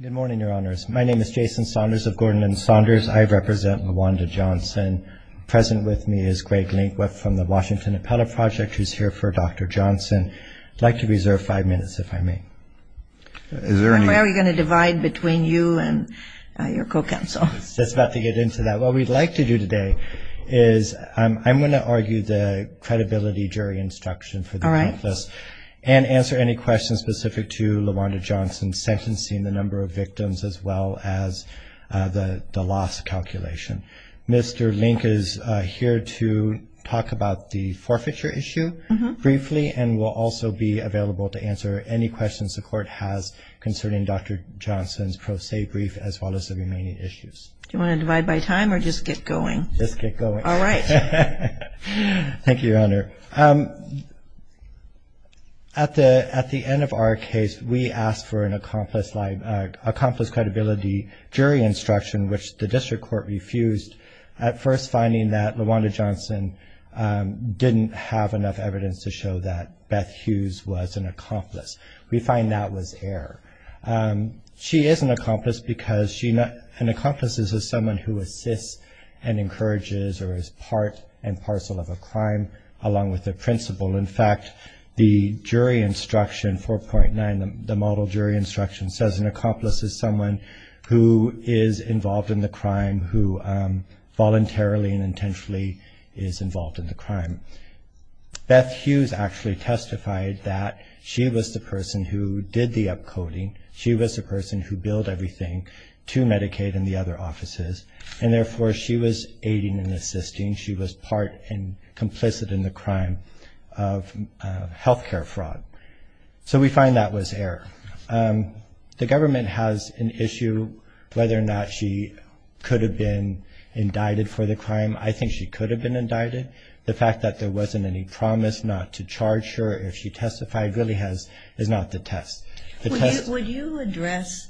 Good morning, your honors. My name is Jason Saunders of Gordon and Saunders. I represent LaWanda Johnson. Present with me is Greg Linkweb from the Washington Appellate Project, who's here for Dr. Johnson. I'd like to reserve five minutes, if I may. Where are we going to divide between you and your co-counsel? That's about to get into that. What we'd like to do today is, I'm going to argue the credibility jury instruction for this and answer any questions specific to LaWanda Johnson's sentencing, the number of victims, as well as the loss calculation. Mr. Link is here to talk about the forfeiture issue briefly and will also be available to answer any questions the court has concerning Dr. Johnson's pro se brief, as well as the remaining issues. Do you want to divide by time or just get going? Just get going. All right. Thank you, your honor. At the end of our case, we asked for an accomplice credibility jury instruction, which the district court refused, at first finding that LaWanda Johnson didn't have enough evidence to show that Beth Hughes was an accomplice. We find that was error. She is an accomplice because an accomplice is someone who assists and encourages or is part and parcel of a crime, along with the principal. In fact, the jury instruction, 4.9, the model jury instruction, says an accomplice is someone who is involved in the crime, who voluntarily and intentionally is involved in the crime. Beth Hughes actually testified that she was the person who did the upcoding. She was the person who billed everything to Medicaid and the other offices, and therefore she was aiding and assisting. She was part and complicit in the crime of health care fraud. So we find that was error. The government has an issue whether or not she could have been indicted for the crime. I think she could have been indicted. The fact that there wasn't any promise not to charge her if she testified really is not the test. The test... Would you address...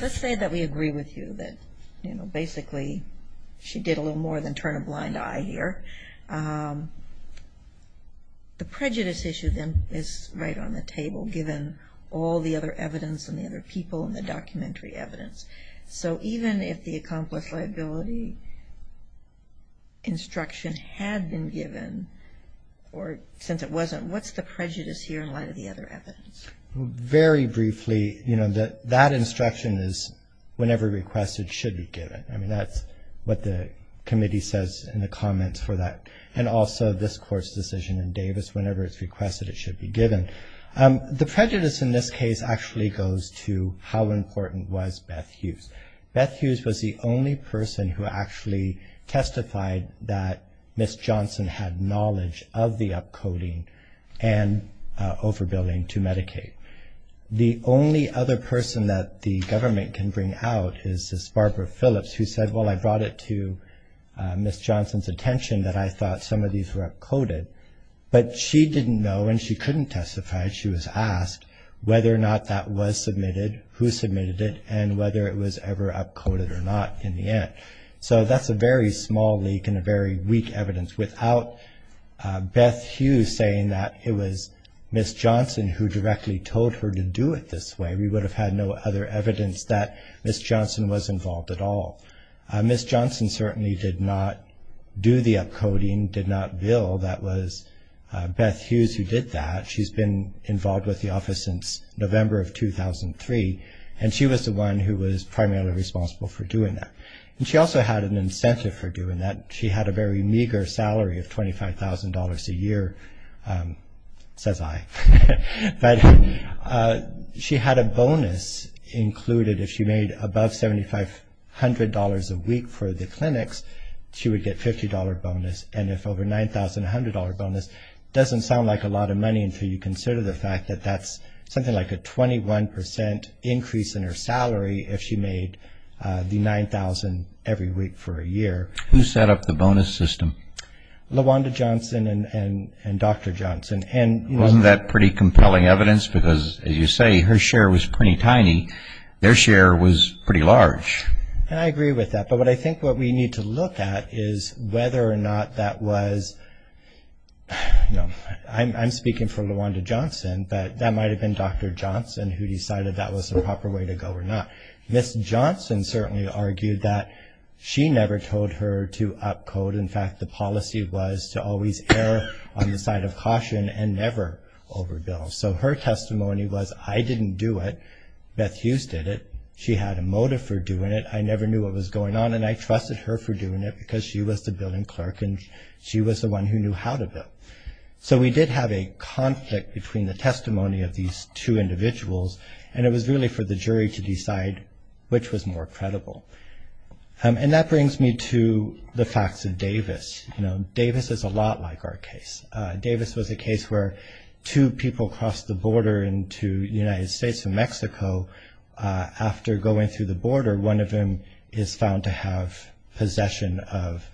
Let's say that we agree with you that, you know, basically she did a little more than turn a blind eye here. The prejudice issue, then, is right on the table, given all the other evidence and the other people and the documentary evidence. So even if the accomplice liability instruction had been given, or since it wasn't, what's the prejudice here in light of the other evidence? Very briefly, you know, that instruction is, whenever requested, should be given. I mean, that's what the committee says in the comments for that, and also this Court's decision in Davis, whenever it's requested, it should be given. The prejudice in this case actually goes to how important was Beth Hughes. Beth Hughes was the only person who actually testified that Ms. Johnson had knowledge of the upcoding and overbilling to Medicaid. The only other person that the government can bring out is Barbara Phillips, who said, well, I brought it to Ms. Johnson's attention that I thought some of these were upcoded, but she didn't know and she couldn't testify. She was asked whether or not that was submitted, who submitted it, and whether it was ever upcoded or not in the end. So that's a very small leak and a very weak evidence. Without Beth Hughes saying that it was Ms. Johnson who directly told her to do it this way, we would have had no other evidence that Ms. Johnson was involved at all. Ms. Johnson certainly did not do the upcoding, did not bill. That was Beth Hughes who did that. She's been involved with the office since November of 2003, and she was the one who was primarily responsible for doing that. And she also had an incentive for doing that. She had a very meager salary of $25,000 a year, says I. But she had a bonus included. If she made above $7,500 a week for the clinics, she would get a $50 bonus. And if over $9,000, a $100 bonus. It doesn't sound like a lot of money until you consider the fact that that's something like a 21% increase in her salary if she made the $9,000 every week for a year. Who set up the bonus system? LaWanda Johnson and Dr. Johnson. And wasn't that pretty compelling evidence? Because, as you say, her share was pretty tiny. Their share was pretty large. And I agree with that. But what I think what we need to look at is whether or not that was, you know, I'm speaking for LaWanda Johnson, but that might have been Dr. Johnson who decided that was the proper way to go or not. Ms. Johnson certainly argued that she never told her to upcode. In fact, the policy was to always err on the side of caution and never overbill. So her testimony was I didn't do it. Beth Hughes did it. She had a motive for doing it. I never knew what was going on, and I trusted her for doing it because she was the billing clerk and she was the one who knew how to bill. So we did have a conflict between the testimony of these two individuals, and it was really for the jury to decide which was more credible. And that brings me to the facts of Davis. You know, Davis is a lot like our case. Davis was a case where two people crossed the border into the United States and Mexico. After going through the border, one of them is found to have possession of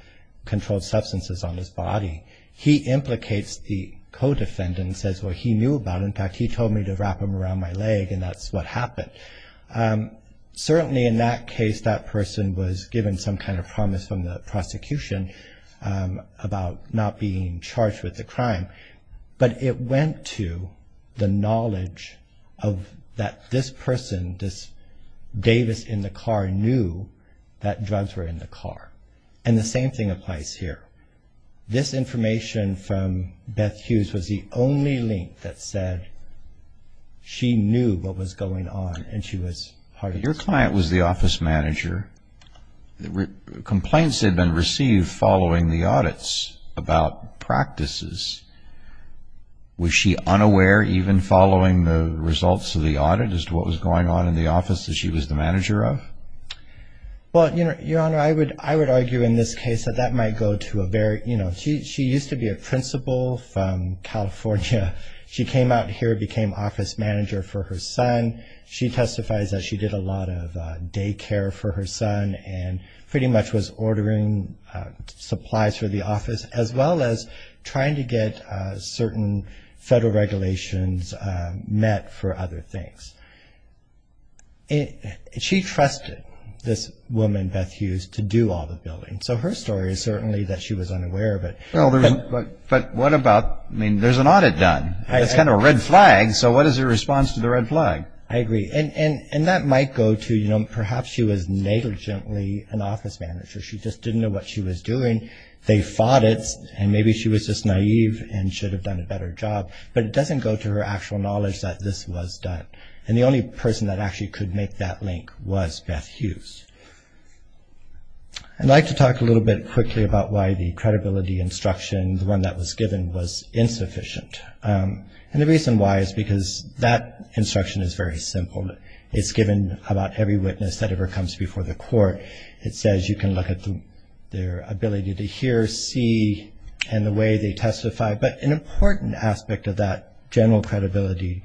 controlled substances on his body. He implicates the co-defendant and says, well, he knew about it. In fact, he told me to wrap him around my leg, and that's what happened. Certainly in that case, that person was given some kind of promise from the prosecution about not being charged with the crime, but it went to the knowledge that this person, this Davis in the car, knew that drugs were in the car. And the same thing applies here. This information from Beth Hughes was the only link that said she knew what was going on and she was part of this. Your client was the office manager. Complaints had been received following the audits about practices. Was she unaware, even following the results of the audit, as to what was going on in the office that she was the manager of? Well, Your Honor, I would argue in this case that that might go to a very, you know, she used to be a principal from California. She came out here, became office manager for her son. She testifies that she did a lot of daycare for her son and pretty much was ordering supplies for the office, as well as trying to get certain federal regulations met for other things. She trusted this woman, Beth Hughes, to do all the building. So her story is certainly that she was unaware of it. But what about, I mean, there's an audit done. It's kind of a red flag, so what is your response to the red flag? I agree. And that might go to, you know, perhaps she was negligently an office manager. She just didn't know what she was doing. They fought it and maybe she was just naive and should have done a better job. But it doesn't go to her actual knowledge that this was done. And the only person that actually could make that link was Beth Hughes. I'd like to talk a little bit quickly about why the credibility instruction, the one that was given, was insufficient. And the reason why is because that instruction is very simple. It's given about every witness that ever comes before the court. It says you can look at their ability to hear, see, and the way they testify. But an important aspect of that general credibility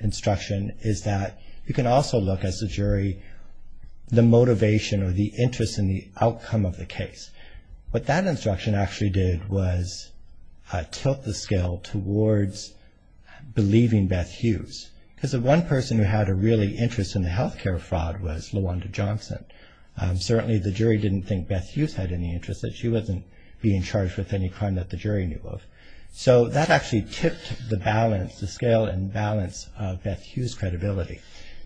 instruction is that you can also look, as the jury, the motivation or the interest in the outcome of the case. What that instruction actually did was tilt the scale towards believing Beth Hughes. Because the one person who had a really interest in the health care fraud was Lawanda Johnson. Certainly the jury didn't think Beth Hughes had any interest, that she wasn't being charged with any crime that the jury knew of. So that actually tipped the balance, the scale and balance of Beth Hughes' credibility.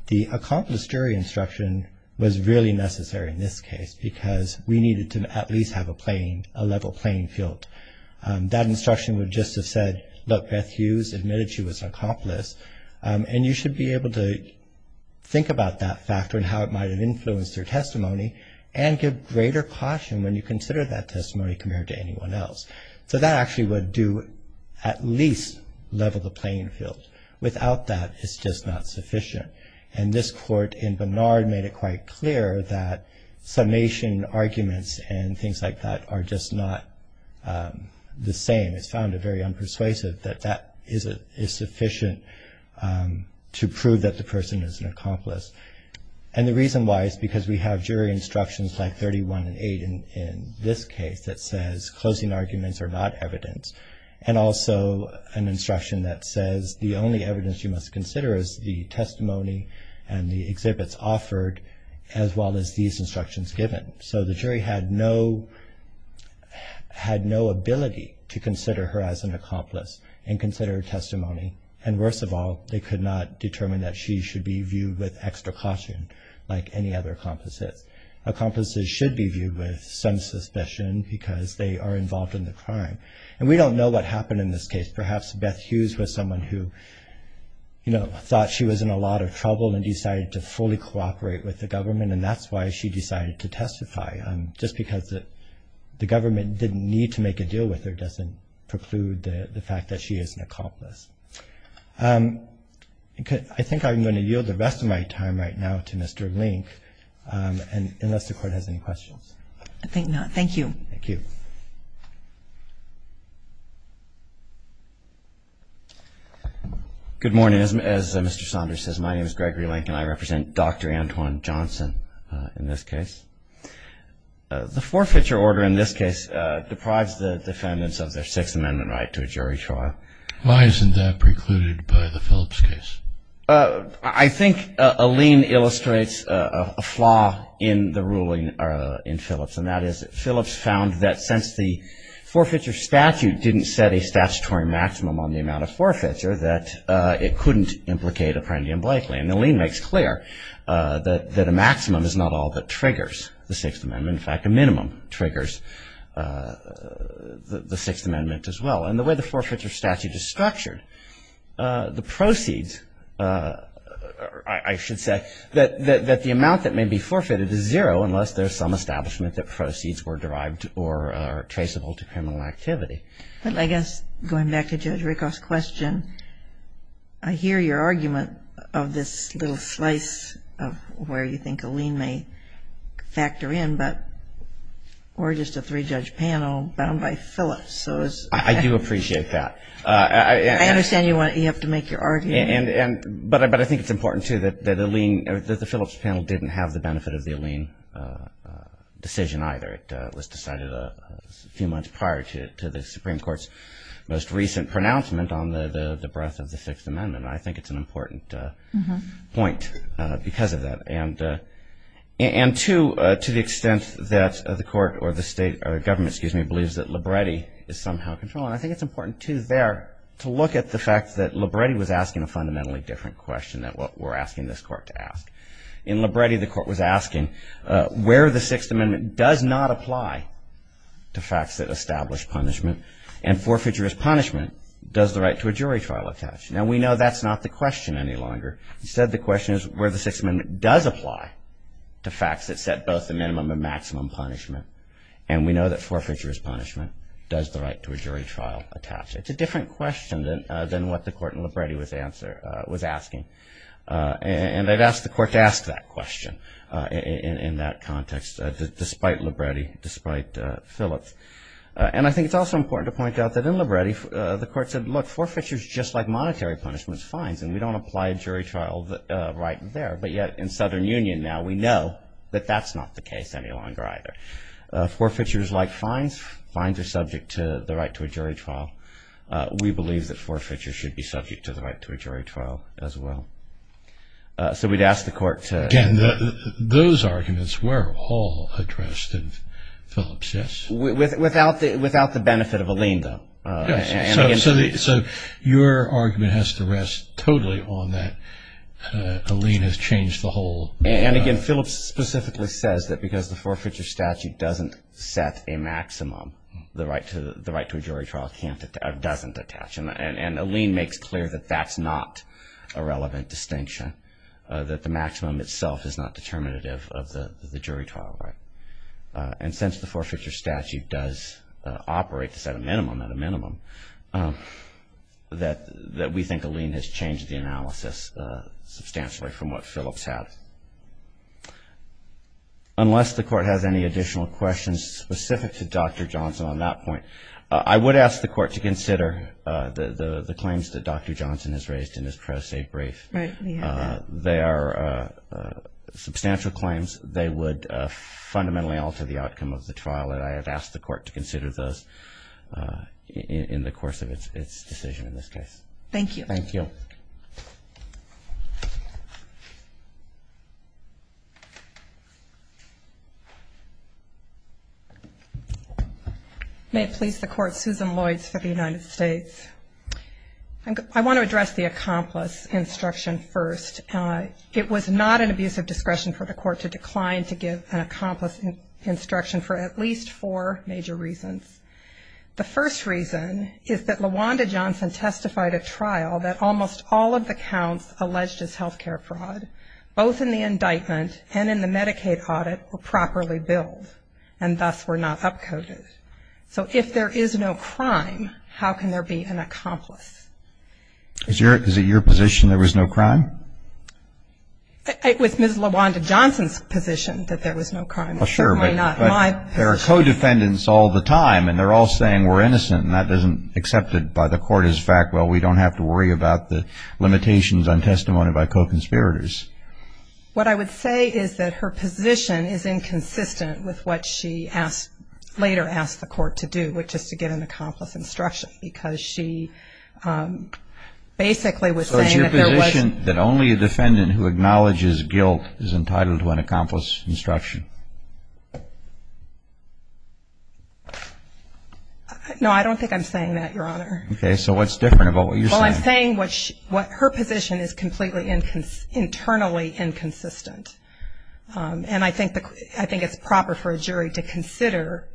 The accomplice jury instruction was really necessary in this case because we needed to at least have a level playing field. That instruction would just have said, look, Beth Hughes admitted she was an accomplice. And you should be able to think about that factor and how it might have influenced her testimony and give greater caution when you consider that testimony compared to anyone else. So that actually would do at least level the playing field. Without that, it's just not sufficient. And this court in Barnard made it quite clear that summation arguments and things like that are just not the same. It's found it very unpersuasive that that is sufficient to prove that the person is an accomplice. And the reason why is because we have jury instructions like 31 and 8 in this case that says closing arguments are not evidence. And also an instruction that says the only evidence you must consider is the testimony and the exhibits offered as well as these instructions given. So the jury had no ability to consider her as an accomplice and consider her testimony. And worst of all, they could not determine that she should be viewed with extra caution like any other accomplices. Accomplices should be viewed with some suspicion because they are involved in the crime. And we don't know what happened in this case. Perhaps Beth Hughes was someone who thought she was in a lot of trouble and decided to fully cooperate with the government, and that's why she decided to testify. Just because the government didn't need to make a deal with her doesn't preclude the fact that she is an accomplice. I think I'm going to yield the rest of my time right now to Mr. Link unless the Court has any questions. I think not. Thank you. Thank you. Good morning. As Mr. Saunders says, my name is Gregory Link and I represent Dr. Antoine Johnson in this case. The forfeiture order in this case deprives the defendants of their Sixth Amendment right to a jury trial. Why isn't that precluded by the Phillips case? I think Alene illustrates a flaw in the ruling in Phillips, and that is Phillips found that since the forfeiture statute didn't set a statutory maximum on the amount of forfeiture, that it couldn't implicate Apprendi and Blakely. And Alene makes clear that a maximum is not all that triggers the Sixth Amendment. In fact, a minimum triggers the Sixth Amendment as well. And the way the forfeiture statute is structured, the proceeds, I should say, that the amount that may be forfeited is zero unless there's some establishment that proceeds were derived or traceable to criminal activity. I guess going back to Judge Rickoff's question, I hear your argument of this little slice of where you think Alene may factor in, but we're just a three-judge panel bound by Phillips. I do appreciate that. I understand you have to make your argument. But I think it's important, too, that the Phillips panel didn't have the benefit of the Alene decision either. It was decided a few months prior to the Supreme Court's most recent pronouncement on the breadth of the Sixth Amendment. I think it's an important point because of that. And, two, to the extent that the court or the state or government, excuse me, believes that Libretti is somehow controlling. I think it's important, too, there to look at the fact that Libretti was asking a fundamentally different question than what we're asking this court to ask. In Libretti, the court was asking where the Sixth Amendment does not apply to facts that establish punishment and forfeiture as punishment does the right to a jury trial attach. Now, we know that's not the question any longer. Instead, the question is where the Sixth Amendment does apply to facts that set both the minimum and maximum punishment. And we know that forfeiture as punishment does the right to a jury trial attach. It's a different question than what the court in Libretti was asking. And I'd ask the court to ask that question in that context, despite Libretti, despite Phillips. And I think it's also important to point out that in Libretti, the court said, look, forfeiture is just like monetary punishments, fines, and we don't apply a jury trial right there. But yet, in Southern Union now, we know that that's not the case any longer either. Forfeiture is like fines. Fines are subject to the right to a jury trial. We believe that forfeiture should be subject to the right to a jury trial as well. So we'd ask the court to- Again, those arguments were all addressed in Phillips, yes? Without the benefit of a lien, though. So your argument has to rest totally on that a lien has changed the whole- And again, Phillips specifically says that because the forfeiture statute doesn't set a maximum, the right to a jury trial doesn't attach. And a lien makes clear that that's not a relevant distinction, that the maximum itself is not determinative of the jury trial right. And since the forfeiture statute does operate to set a minimum at a minimum, that we think a lien has changed the analysis substantially from what Phillips had. Unless the court has any additional questions specific to Dr. Johnson on that point. I would ask the court to consider the claims that Dr. Johnson has raised in his press brief. Right. They are substantial claims. They would fundamentally alter the outcome of the trial, and I have asked the court to consider those in the course of its decision in this case. Thank you. Thank you. Thank you. May it please the court, Susan Lloyds for the United States. I want to address the accomplice instruction first. It was not an abuse of discretion for the court to decline to give an accomplice instruction for at least four major reasons. The first reason is that LaWanda Johnson testified at trial that almost all of the counts alleged as healthcare fraud, both in the indictment and in the Medicaid audit were properly billed, and thus were not upcoded. So if there is no crime, how can there be an accomplice? Is it your position there was no crime? It was Ms. LaWanda Johnson's position that there was no crime. Well, sure, but there are co-defendants all the time, and they're all saying we're innocent, and that isn't accepted by the court as a fact. Well, we don't have to worry about the limitations on testimony by co-conspirators. What I would say is that her position is inconsistent with what she later asked the court to do, which is to give an accomplice instruction because she basically was saying that there was no crime. No, I don't think I'm saying that, Your Honor. Okay. So what's different about what you're saying? Well, I'm saying what her position is completely internally inconsistent, and I think it's proper for a jury to consider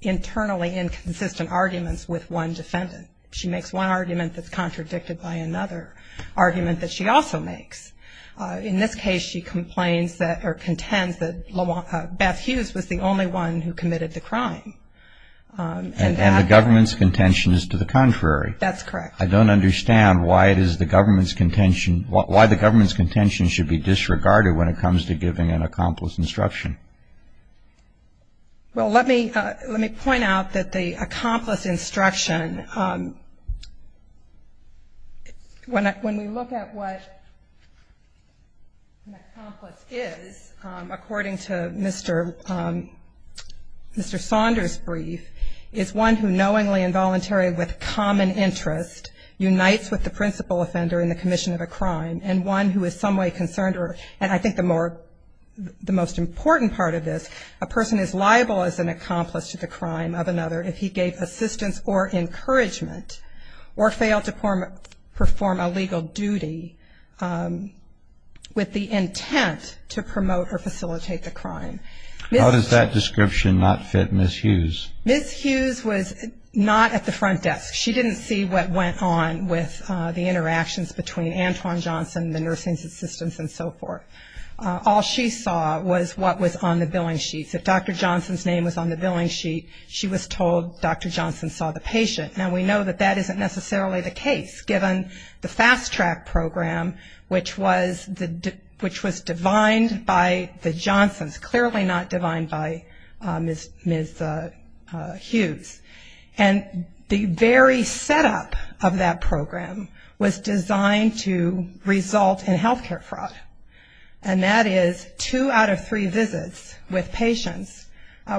internally inconsistent arguments with one defendant. She makes one argument that's contradicted by another argument that she also makes. In this case, she complains or contends that Beth Hughes was the only one who committed the crime. And the government's contention is to the contrary. That's correct. I don't understand why the government's contention should be disregarded when it comes to giving an accomplice instruction. Well, let me point out that the accomplice instruction, when we look at what an accomplice is, according to Mr. Saunders' brief, is one who knowingly and voluntarily with common interest unites with the principal offender in the commission of a crime, and one who is some way concerned, and I think the most important part of this, a person is liable as an accomplice to the crime of another if he gave assistance or encouragement or failed to perform a legal duty with the intent to promote or facilitate the crime. How does that description not fit Ms. Hughes? Ms. Hughes was not at the front desk. She didn't see what went on with the interactions between Antoine Johnson, the nursing assistants, and so forth. All she saw was what was on the billing sheets. If Dr. Johnson's name was on the billing sheet, she was told Dr. Johnson saw the patient. Now, we know that that isn't necessarily the case, given the fast track program, which was divined by the Johnsons, clearly not divined by Ms. Hughes. And the very setup of that program was designed to result in health care fraud, and that is two out of three visits with patients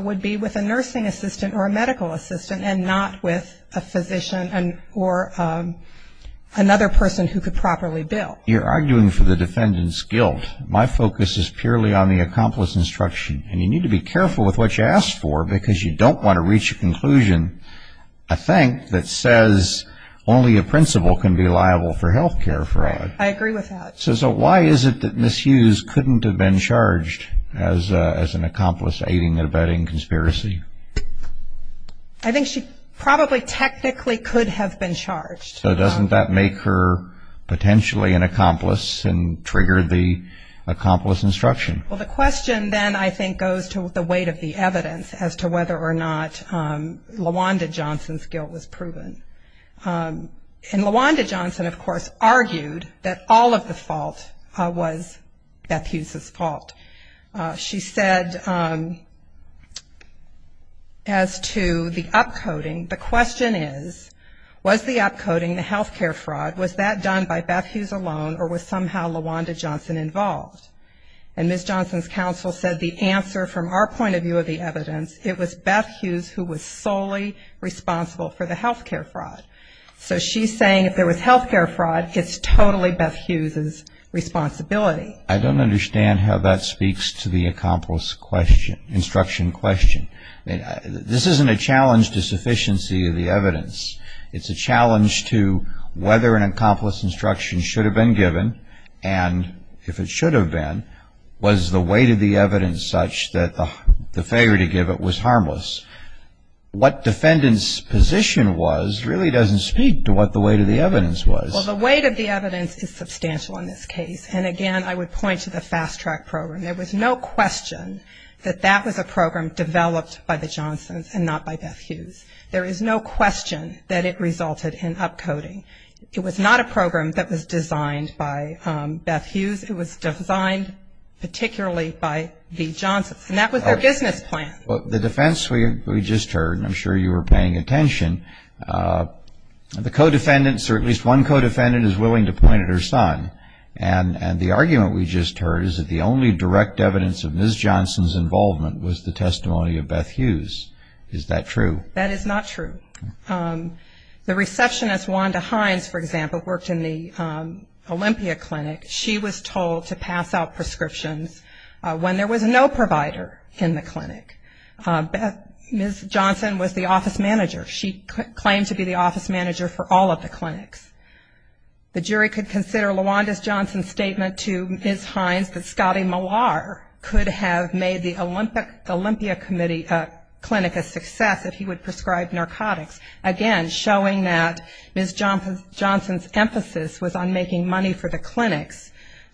would be with a nursing assistant or a medical assistant and not with a physician or another person who could properly bill. You're arguing for the defendant's guilt. My focus is purely on the accomplice instruction, and you need to be careful with what you ask for because you don't want to reach a conclusion, I think, that says only a principal can be liable for health care fraud. I agree with that. So why is it that Ms. Hughes couldn't have been charged as an accomplice aiding and abetting conspiracy? I think she probably technically could have been charged. So doesn't that make her potentially an accomplice and trigger the accomplice instruction? Well, the question then I think goes to the weight of the evidence as to whether or not LaWanda Johnson's guilt was proven. And LaWanda Johnson, of course, argued that all of the fault was Beth Hughes's fault. She said as to the upcoding, the question is, was the upcoding, the health care fraud, was that done by Beth Hughes alone or was somehow LaWanda Johnson involved? And Ms. Johnson's counsel said the answer from our point of view of the evidence, it was Beth Hughes who was solely responsible for the health care fraud. So she's saying if there was health care fraud, it's totally Beth Hughes's responsibility. I don't understand how that speaks to the accomplice question, instruction question. This isn't a challenge to sufficiency of the evidence. It's a challenge to whether an accomplice instruction should have been given, and if it should have been, was the weight of the evidence such that the failure to give it was harmless. What defendant's position was really doesn't speak to what the weight of the evidence was. Well, the weight of the evidence is substantial in this case. And, again, I would point to the fast track program. There was no question that that was a program developed by the Johnsons and not by Beth Hughes. There is no question that it resulted in upcoding. It was not a program that was designed by Beth Hughes. It was designed particularly by the Johnsons, and that was their business plan. Well, the defense we just heard, and I'm sure you were paying attention, the co-defendants or at least one co-defendant is willing to point at her son. And the argument we just heard is that the only direct evidence of Ms. Johnson's involvement was the testimony of Beth Hughes. Is that true? That is not true. The receptionist, Wanda Hines, for example, worked in the Olympia Clinic. She was told to pass out prescriptions when there was no provider in the clinic. Ms. Johnson was the office manager. She claimed to be the office manager for all of the clinics. The jury could consider Lawanda Johnson's statement to Ms. Hines that Scotty Millar could have made the Olympia Clinic a success if he would prescribe narcotics, again, showing that Ms. Johnson's emphasis was on making money for the clinics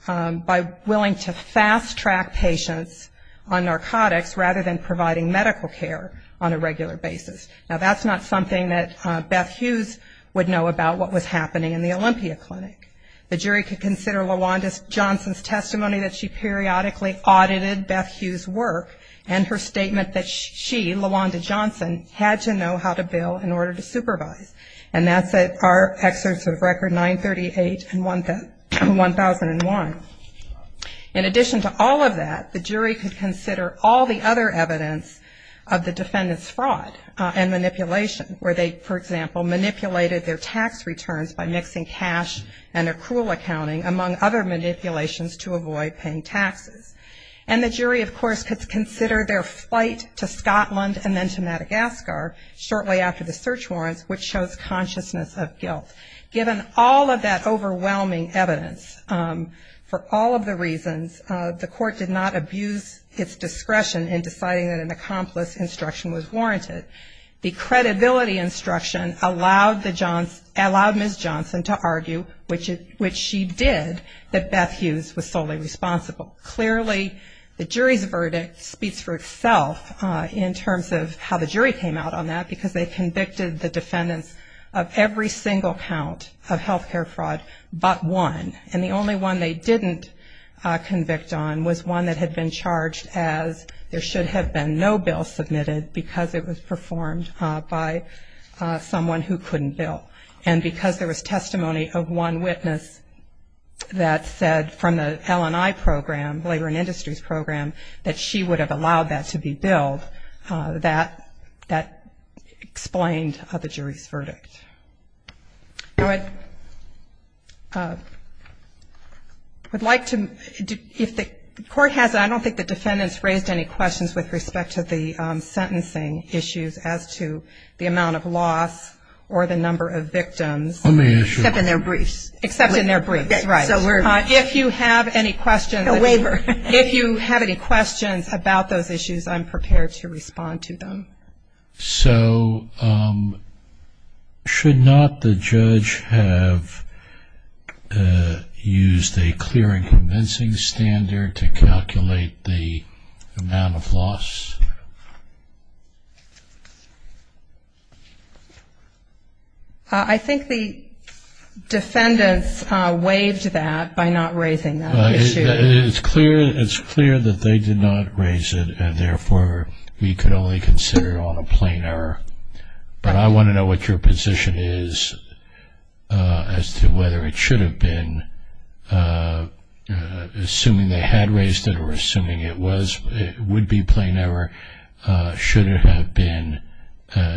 by willing to fast-track patients on narcotics rather than providing medical care on a regular basis. Now, that's not something that Beth Hughes would know about what was happening in the Olympia Clinic. The jury could consider Lawanda Johnson's testimony that she periodically audited Beth Hughes' work and her statement that she, Lawanda Johnson, had to know how to bill in order to supervise. And that's our excerpts of Record 938 and 1001. In addition to all of that, the jury could consider all the other evidence of the defendant's fraud and manipulation, where they, for example, manipulated their tax returns by mixing cash and accrual accounting, among other manipulations to avoid paying taxes. And the jury, of course, could consider their flight to Scotland and then to Madagascar shortly after the search warrants, which shows consciousness of guilt. Given all of that overwhelming evidence, for all of the reasons, the court did not abuse its discretion in deciding that an accomplice instruction was warranted. The credibility instruction allowed Ms. Johnson to argue, which she did, that Beth Hughes was solely responsible. Clearly, the jury's verdict speaks for itself in terms of how the jury came out on that, because they convicted the defendants of every single count of health care fraud but one. And the only one they didn't convict on was one that had been charged as there should have been no bill submitted because it was performed by someone who couldn't bill. And because there was testimony of one witness that said from the L&I program, Labor and Industries program, that she would have allowed that to be billed, that explained the jury's verdict. I would like to, if the court has, I don't think the defendants raised any questions with respect to the sentencing issues as to the amount of loss or the number of victims, except in their briefs. If you have any questions about those issues, I'm prepared to respond to them. So should not the judge have used a clear and convincing standard to calculate the amount of loss? I think the defendants waived that by not raising that issue. It's clear that they did not raise it, and therefore we could only consider it on a plain error. But I want to know what your position is as to whether it should have been, assuming they had raised it or assuming it would be plain error, should it have been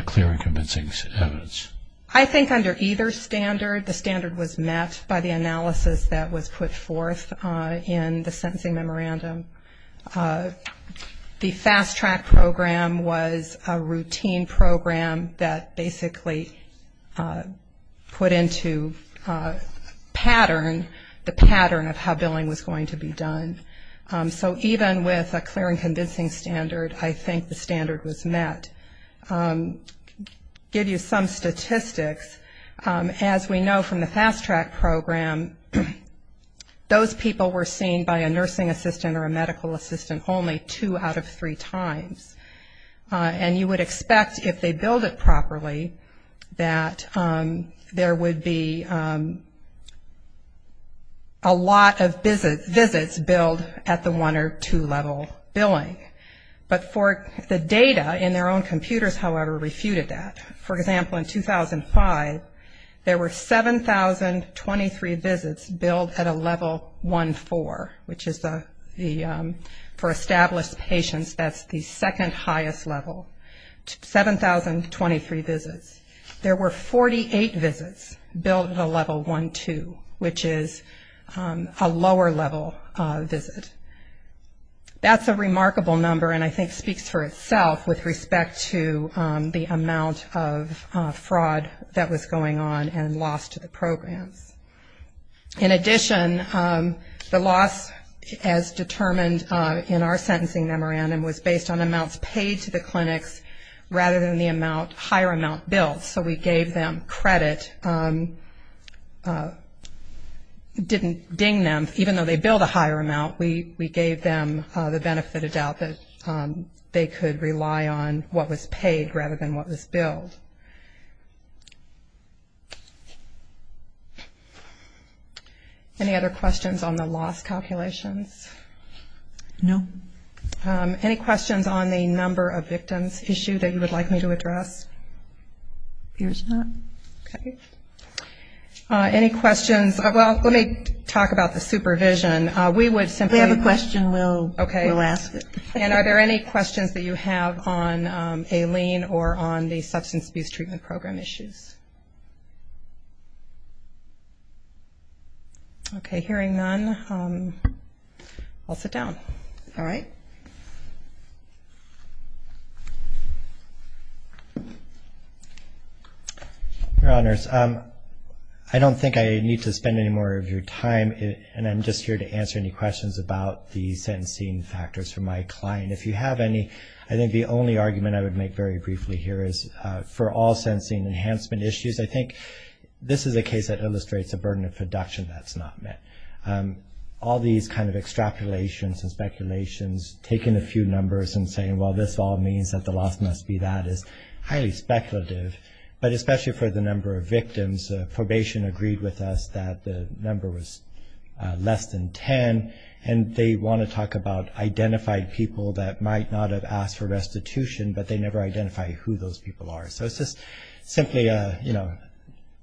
clear and convincing evidence? I think under either standard, the standard was met by the analysis that was put forth in the sentencing memorandum. The fast track program was a routine program that basically put into pattern, the pattern of how billing was going to be done. So even with a clear and convincing standard, I think the standard was met. Give you some statistics. As we know from the fast track program, those people were seen by a nursing assistant or a medical assistant only two out of three times. And you would expect if they billed it properly that there would be a lot of visits billed at the one or two level billing. But for the data in their own computers, however, refuted that. For example, in 2005, there were 7,023 visits billed at a level 1-4, which is for established patients that's the second highest level, 7,023 visits. There were 48 visits billed at a level 1-2, which is a lower level visit. That's a remarkable number and I think speaks for itself with respect to the amount of fraud that was going on and lost to the programs. In addition, the loss as determined in our sentencing memorandum was based on amounts paid to the clinics rather than the higher amount billed. So we gave them credit, didn't ding them, even though they billed a higher amount. We gave them the benefit of doubt that they could rely on what was paid rather than what was billed. Any other questions on the loss calculations? No. Any questions on the number of victims issue that you would like me to address? No. Okay. Any questions? Well, let me talk about the supervision. We would simply If you have a question, we'll ask it. Okay. And are there any questions that you have on a lien or on the substance abuse treatment program issues? Okay, hearing none, I'll sit down. All right. Your Honors, I don't think I need to spend any more of your time, and I'm just here to answer any questions about the sentencing factors for my client. If you have any, I think the only argument I would make very briefly here is for all sentencing enhancement issues, I think this is a case that illustrates a burden of production that's not met. All these kind of extrapolations and speculations, taking a few numbers and saying, well, this all means that the loss must be that is highly speculative. But especially for the number of victims, probation agreed with us that the number was less than 10, and they want to talk about identified people that might not have asked for restitution, but they never identified who those people are. So it's just simply a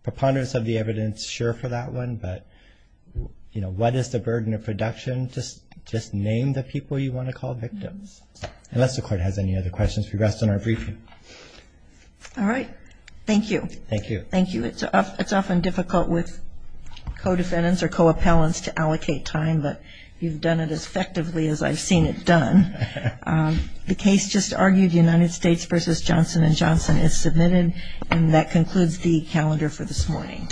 preponderance of the evidence, sure, for that one. But, you know, what is the burden of production? Just name the people you want to call victims, unless the Court has any other questions. We rest on our briefing. All right. Thank you. Thank you. Thank you. It's often difficult with co-defendants or co-appellants to allocate time, but you've done it as effectively as I've seen it done. The case just argued, United States v. Johnson & Johnson, is submitted, and that concludes the calendar for this morning.